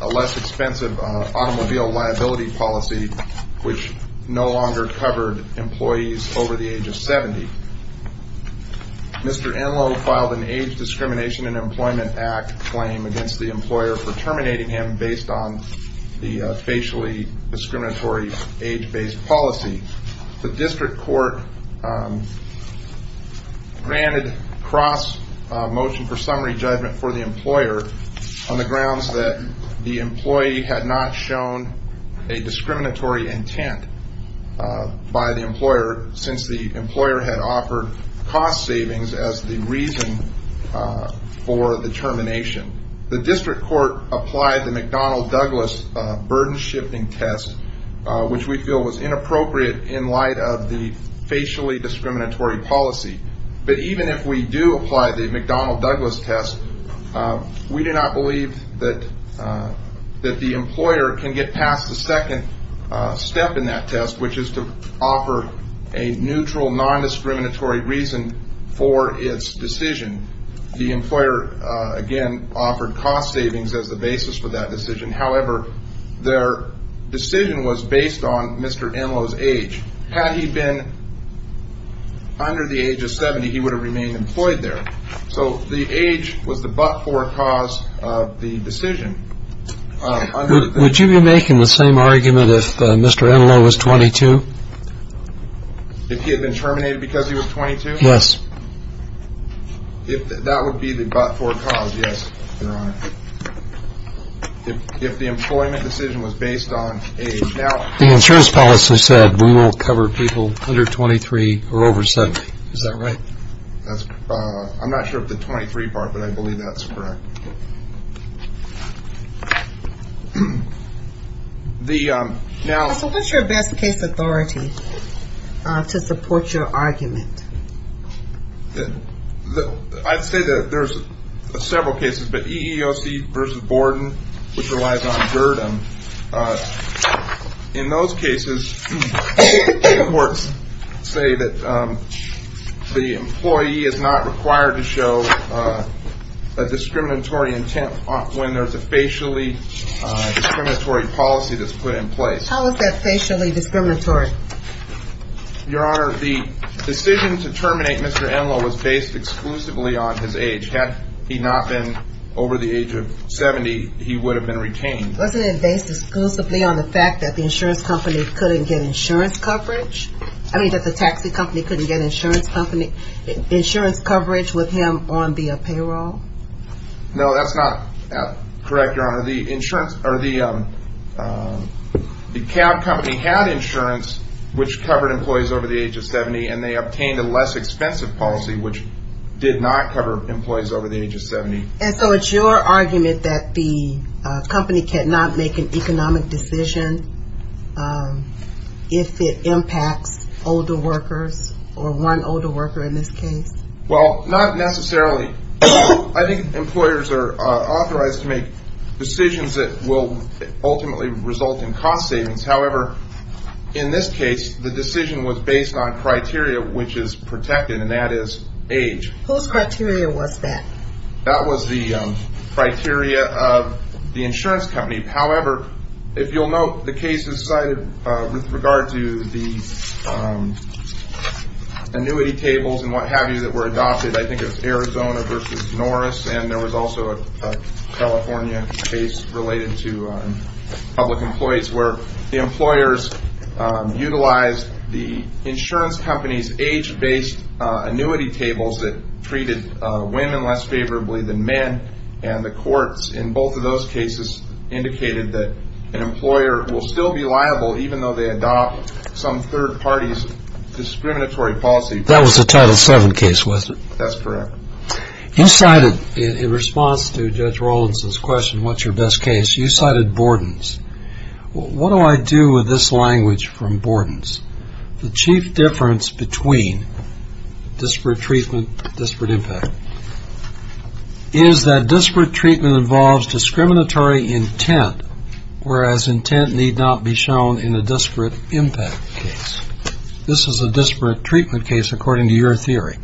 A less expensive automobile liability policy, which no longer covered employees over the age of 70. Mr. Enlow filed an Age Discrimination in Employment Act claim against the employer for terminating him based on the facially discriminatory age-based policy. The district court granted cross motion for summary judgment for the employer on the grounds that the employee had not shown a discriminatory intent by the employer since the employer had offered cost savings as the reason for the termination. The district court applied the McDonnell-Douglas burden shifting test, which we feel was inappropriate in light of the facially discriminatory policy. But even if we do apply the McDonnell-Douglas test, we do not believe that the employer can get past the second step in that test, which is to offer a neutral, non-discriminatory reason for its decision. The employer, again, offered cost savings as the basis for that decision. However, their decision was based on Mr. Enlow's age. Had he been under the age of 70, he would have remained employed there. So the age was the but-for cause of the decision. Would you be making the same argument if Mr. Enlow was 22? If he had been terminated because he was 22? Yes. That would be the but-for cause, yes, Your Honor. If the employment decision was based on age. The insurance policy said we won't cover people under 23 or over 70, is that right? I'm not sure of the 23 part, but I believe that's correct. So what's your best case authority to support your argument? I'd say that there's several cases, but EEOC versus Borden, which relies on burden. In those cases, the courts say that the employee is not required to show a discriminatory intent when there's a facially discriminatory policy that's put in place. How is that facially discriminatory? Your Honor, the decision to terminate Mr. Enlow was based exclusively on his age. Had he not been over the age of 70, he would have been retained. Wasn't it based exclusively on the fact that the taxi company couldn't get insurance coverage with him on the payroll? No, that's not correct, Your Honor. The cab company had insurance, which covered employees over the age of 70, and they obtained a less expensive policy, which did not cover employees over the age of 70. And so it's your argument that the company cannot make an economic decision if it impacts older workers, or one older worker in this case? Well, not necessarily. I think employers are authorized to make decisions that will ultimately result in cost savings. However, in this case, the decision was based on criteria, which is protected, and that is age. Whose criteria was that? That was the criteria of the insurance company. However, if you'll note, the cases cited with regard to the annuity tables and what have you that were adopted, I think it was Arizona versus Norris, and there was also a California case related to public employees, where the employers utilized the insurance company's age-based annuity tables that treated women less favorably than men, and the courts in both of those cases indicated that an employer will still be liable, even though they adopt some third party's discriminatory policy. That was the Title VII case, was it? That's correct. You cited, in response to Judge Rowlands' question, what's your best case, you cited Bordens. What do I do with this language from Bordens? The chief difference between disparate treatment, disparate impact, is that disparate treatment involves discriminatory intent, whereas intent need not be shown in a disparate impact case. This is a disparate treatment case, according to your theory.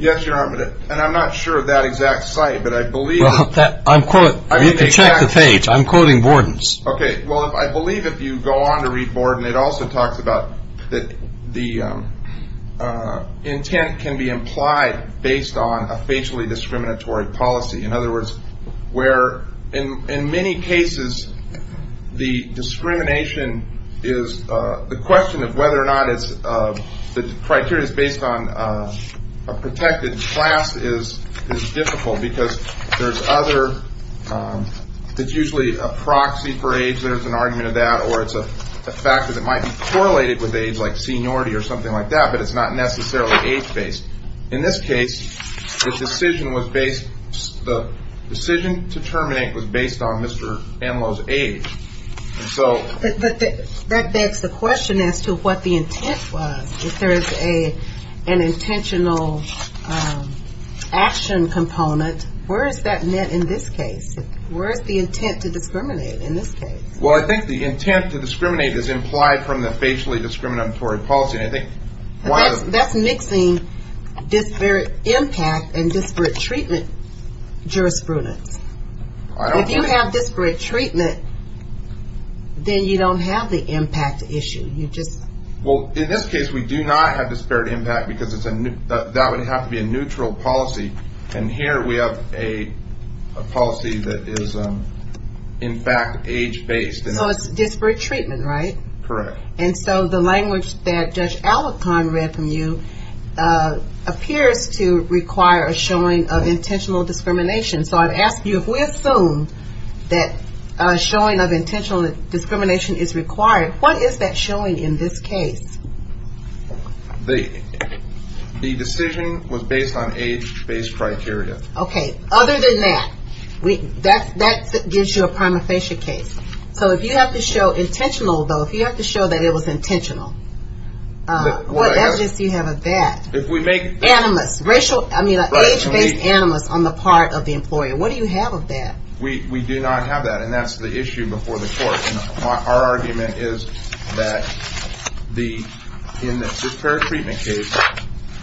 Yes, Your Honor, and I'm not sure of that exact site, but I believe that- You can check the page. I'm quoting Bordens. Okay. Well, I believe if you go on to read Borden, it also talks about that the intent can be implied based on a facially discriminatory policy. In other words, where in many cases, the discrimination is the question of whether or not the criteria is based on a protected class is difficult, because there's other- it's usually a proxy for age, there's an argument of that, or it's a factor that might be correlated with age, like seniority or something like that, but it's not necessarily age-based. In this case, the decision to terminate was based on Mr. Anlow's age. But that begs the question as to what the intent was. If there is an intentional action component, where is that met in this case? Where is the intent to discriminate in this case? Well, I think the intent to discriminate is implied from the facially discriminatory policy. That's mixing disparate impact and disparate treatment jurisprudence. If you have disparate treatment, then you don't have the impact issue. Well, in this case, we do not have disparate impact, because that would have to be a neutral policy, and here we have a policy that is, in fact, age-based. So it's disparate treatment, right? Correct. And so the language that Judge Alecant read from you appears to require a showing of intentional discrimination. So I'd ask you, if we assume that a showing of intentional discrimination is required, what is that showing in this case? The decision was based on age-based criteria. Okay. Other than that, that gives you a prima facie case. So if you have to show intentional, though, if you have to show that it was intentional, what evidence do you have of that? Animus. Age-based animus on the part of the employer. What do you have of that? We do not have that, and that's the issue before the court. Our argument is that in the disparate treatment case,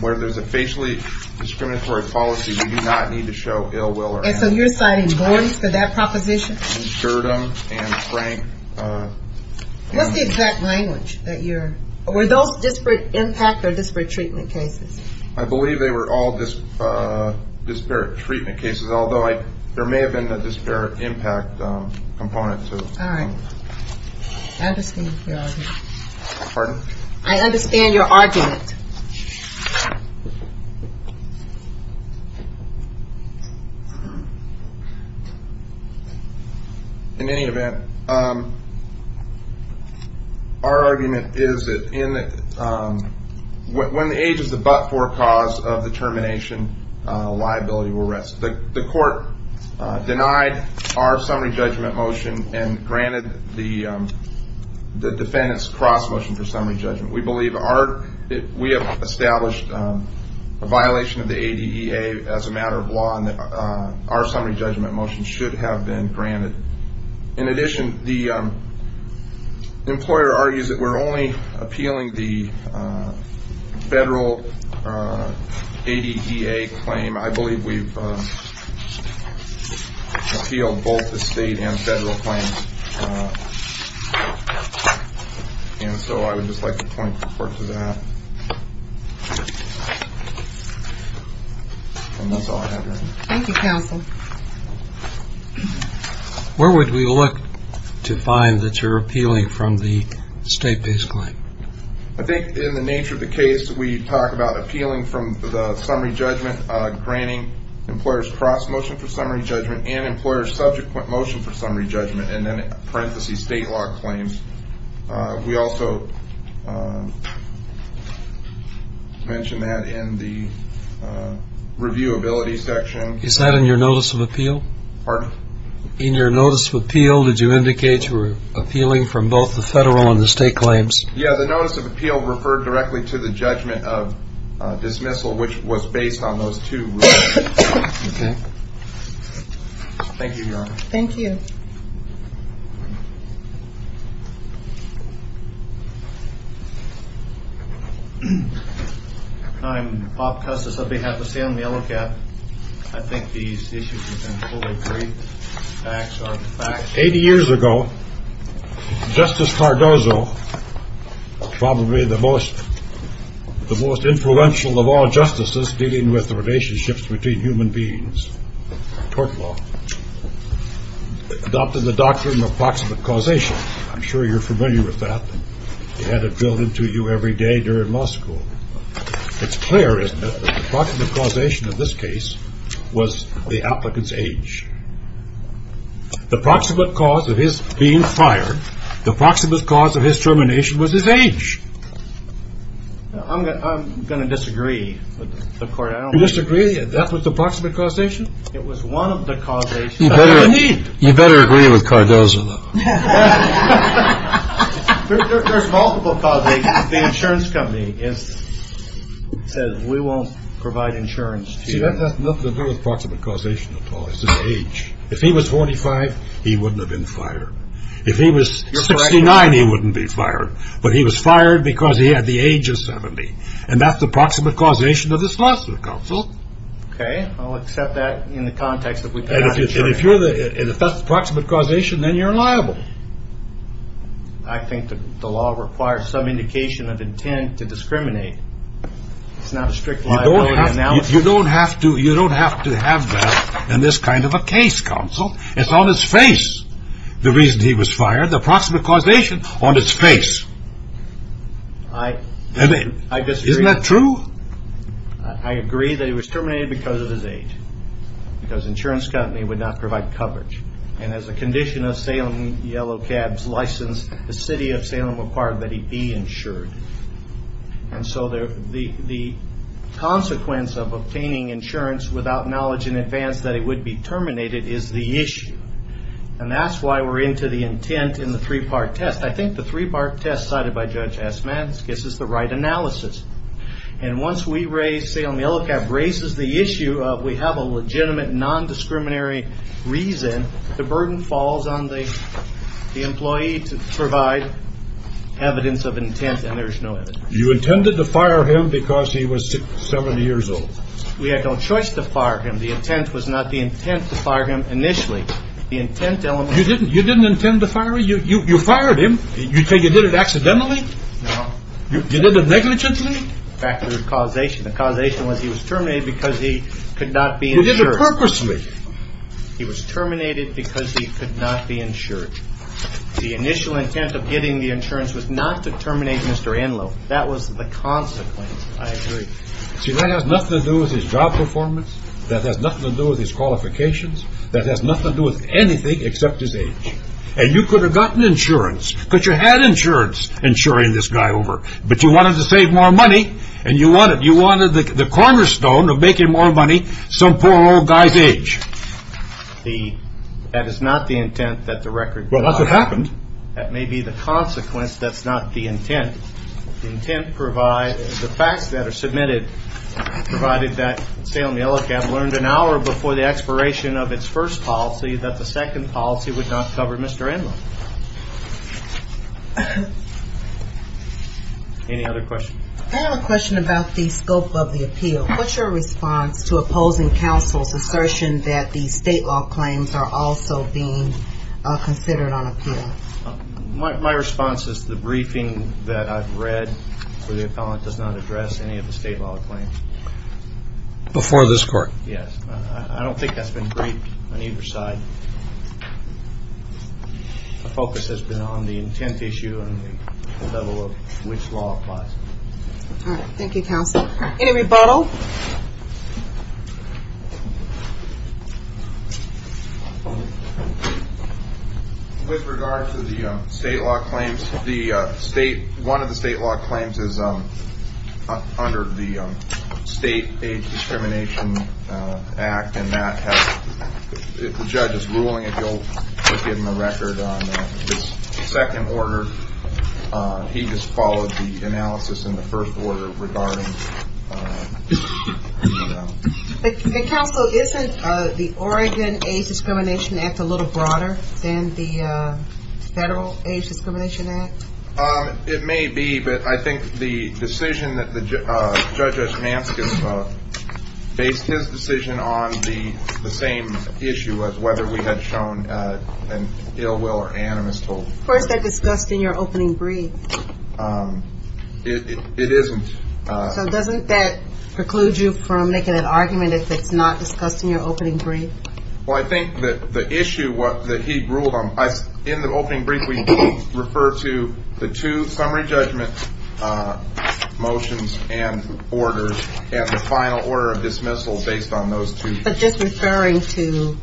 where there's a facially discriminatory policy, we do not need to show ill will or animus. And so you're citing bores for that proposition? Durden and Frank. What's the exact language? Were those disparate impact or disparate treatment cases? I believe they were all disparate treatment cases, although there may have been a disparate impact component, too. All right. I understand your argument. Pardon? I understand your argument. In any event, our argument is that when the age is the but-for cause of the termination, liability will rest. The court denied our summary judgment motion and granted the defendant's cross motion for summary judgment. We have established a violation of the ADEA as a matter of law, and our summary judgment motion should have been granted. In addition, the employer argues that we're only appealing the federal ADEA claim. I believe we've appealed both the state and federal claims. And so I would just like to point the court to that. And that's all I have, Your Honor. Thank you, counsel. Where would we look to find that you're appealing from the state-based claim? I think in the nature of the case, we talk about appealing from the summary judgment, granting employer's cross motion for summary judgment and employer's subsequent motion for summary judgment, and then in parentheses state law claims. We also mentioned that in the reviewability section. Is that in your notice of appeal? Pardon? In your notice of appeal, did you indicate you were appealing from both the federal and the state claims? Yeah, the notice of appeal referred directly to the judgment of dismissal, which was based on those two rules. Okay. Thank you, Your Honor. Thank you. I'm Bob Custis on behalf of Salem Yellow Cap. I think these issues have been fully briefed. Eighty years ago, Justice Cardozo, probably the most influential of all justices dealing with the relationships between human beings, tort law, adopted the doctrine of proximate causation. I'm sure you're familiar with that. You had it drilled into you every day during law school. It's clear, isn't it, that the proximate causation of this case was the applicant's age. The proximate cause of his being fired, the proximate cause of his termination was his age. I'm going to disagree with the court. You disagree that that was the proximate causation? It was one of the causations. You better agree with Cardozo, though. There's multiple causations. The insurance company says we won't provide insurance to you. See, that's not the proximate causation at all. It's his age. If he was 45, he wouldn't have been fired. If he was 69, he wouldn't be fired. But he was fired because he had the age of 70. And that's the proximate causation of this lawsuit, counsel. Okay. I'll accept that in the context that we've got insurance. And if that's the proximate causation, then you're liable. I think the law requires some indication of intent to discriminate. It's not a strict liability analysis. You don't have to have that in this kind of a case, counsel. It's on its face, the reason he was fired, the proximate causation on its face. I disagree. Isn't that true? I agree that he was terminated because of his age, because the insurance company would not provide coverage. And as a condition of Salem Yellow Cab's license, the city of Salem required that he be insured. And so the consequence of obtaining insurance without knowledge in advance that he would be terminated is the issue. And that's why we're into the intent in the three-part test. I think the three-part test cited by Judge Asman gets us the right analysis. And once we raise Salem Yellow Cab raises the issue of we have a legitimate, nondiscriminatory reason, the burden falls on the employee to provide evidence of intent, and there's no evidence. You intended to fire him because he was 70 years old. We had no choice to fire him. The intent was not the intent to fire him initially. The intent element was the intent. You didn't intend to fire him? You fired him. You say you did it accidentally? No. You did it negligently? In fact, there was causation. The causation was he was terminated because he could not be insured. You did it purposely. He was terminated because he could not be insured. The initial intent of getting the insurance was not to terminate Mr. Enloe. That was the consequence. I agree. See, that has nothing to do with his job performance. That has nothing to do with his qualifications. That has nothing to do with anything except his age. And you could have gotten insurance, because you had insurance insuring this guy over. But you wanted to save more money, and you wanted the cornerstone of making more money, some poor old guy's age. That is not the intent that the record provides. Well, that's what happened. That may be the consequence. That's not the intent. The facts that are submitted provided that Salem Yellow Cab learned an hour before the expiration of its first policy that the second policy would not cover Mr. Enloe. Any other questions? I have a question about the scope of the appeal. What's your response to opposing counsel's assertion that the state law claims are also being considered on appeal? My response is the briefing that I've read where the appellant does not address any of the state law claims. Before this court? Yes. I don't think that's been briefed on either side. The focus has been on the intent issue and the level of which law applies. All right. Thank you, counsel. Any rebuttal? With regard to the state law claims, the state one of the state law claims is under the state discrimination act. And that has the judge's ruling. If you'll look in the record on this second order, he just followed the analysis in the first order regarding. Counsel, isn't the Oregon age discrimination act a little broader than the federal age discrimination act? It may be, but I think the decision that the judge based his decision on the same issue as whether we had shown an ill will or animus. First, I discussed in your opening brief. It isn't. So doesn't that preclude you from making an argument if it's not discussed in your opening brief? Well, I think that the issue that he ruled on, in the opening brief, we refer to the two summary judgment motions and orders. And the final order of dismissal based on those two. But just referring to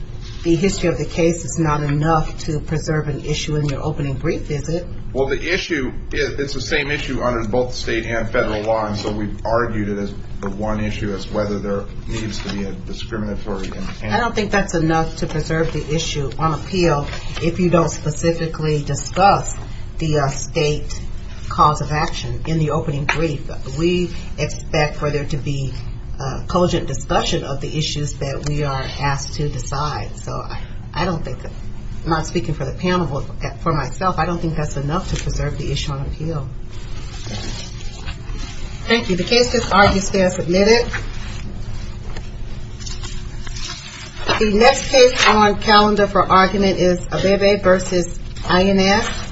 the history of the case is not enough to preserve an issue in your opening brief, is it? Well, the issue, it's the same issue under both state and federal law. And so we've argued it as the one issue as whether there needs to be a discriminatory. I don't think that's enough to preserve the issue on appeal if you don't specifically discuss the state cause of action in the opening brief. We expect for there to be a cogent discussion of the issues that we are asked to decide. So I don't think that, not speaking for the panel, but for myself, I don't think that's enough to preserve the issue on appeal. Thank you. The case is argued and submitted. The next case on calendar for argument is Abebe v. INS. Thank you.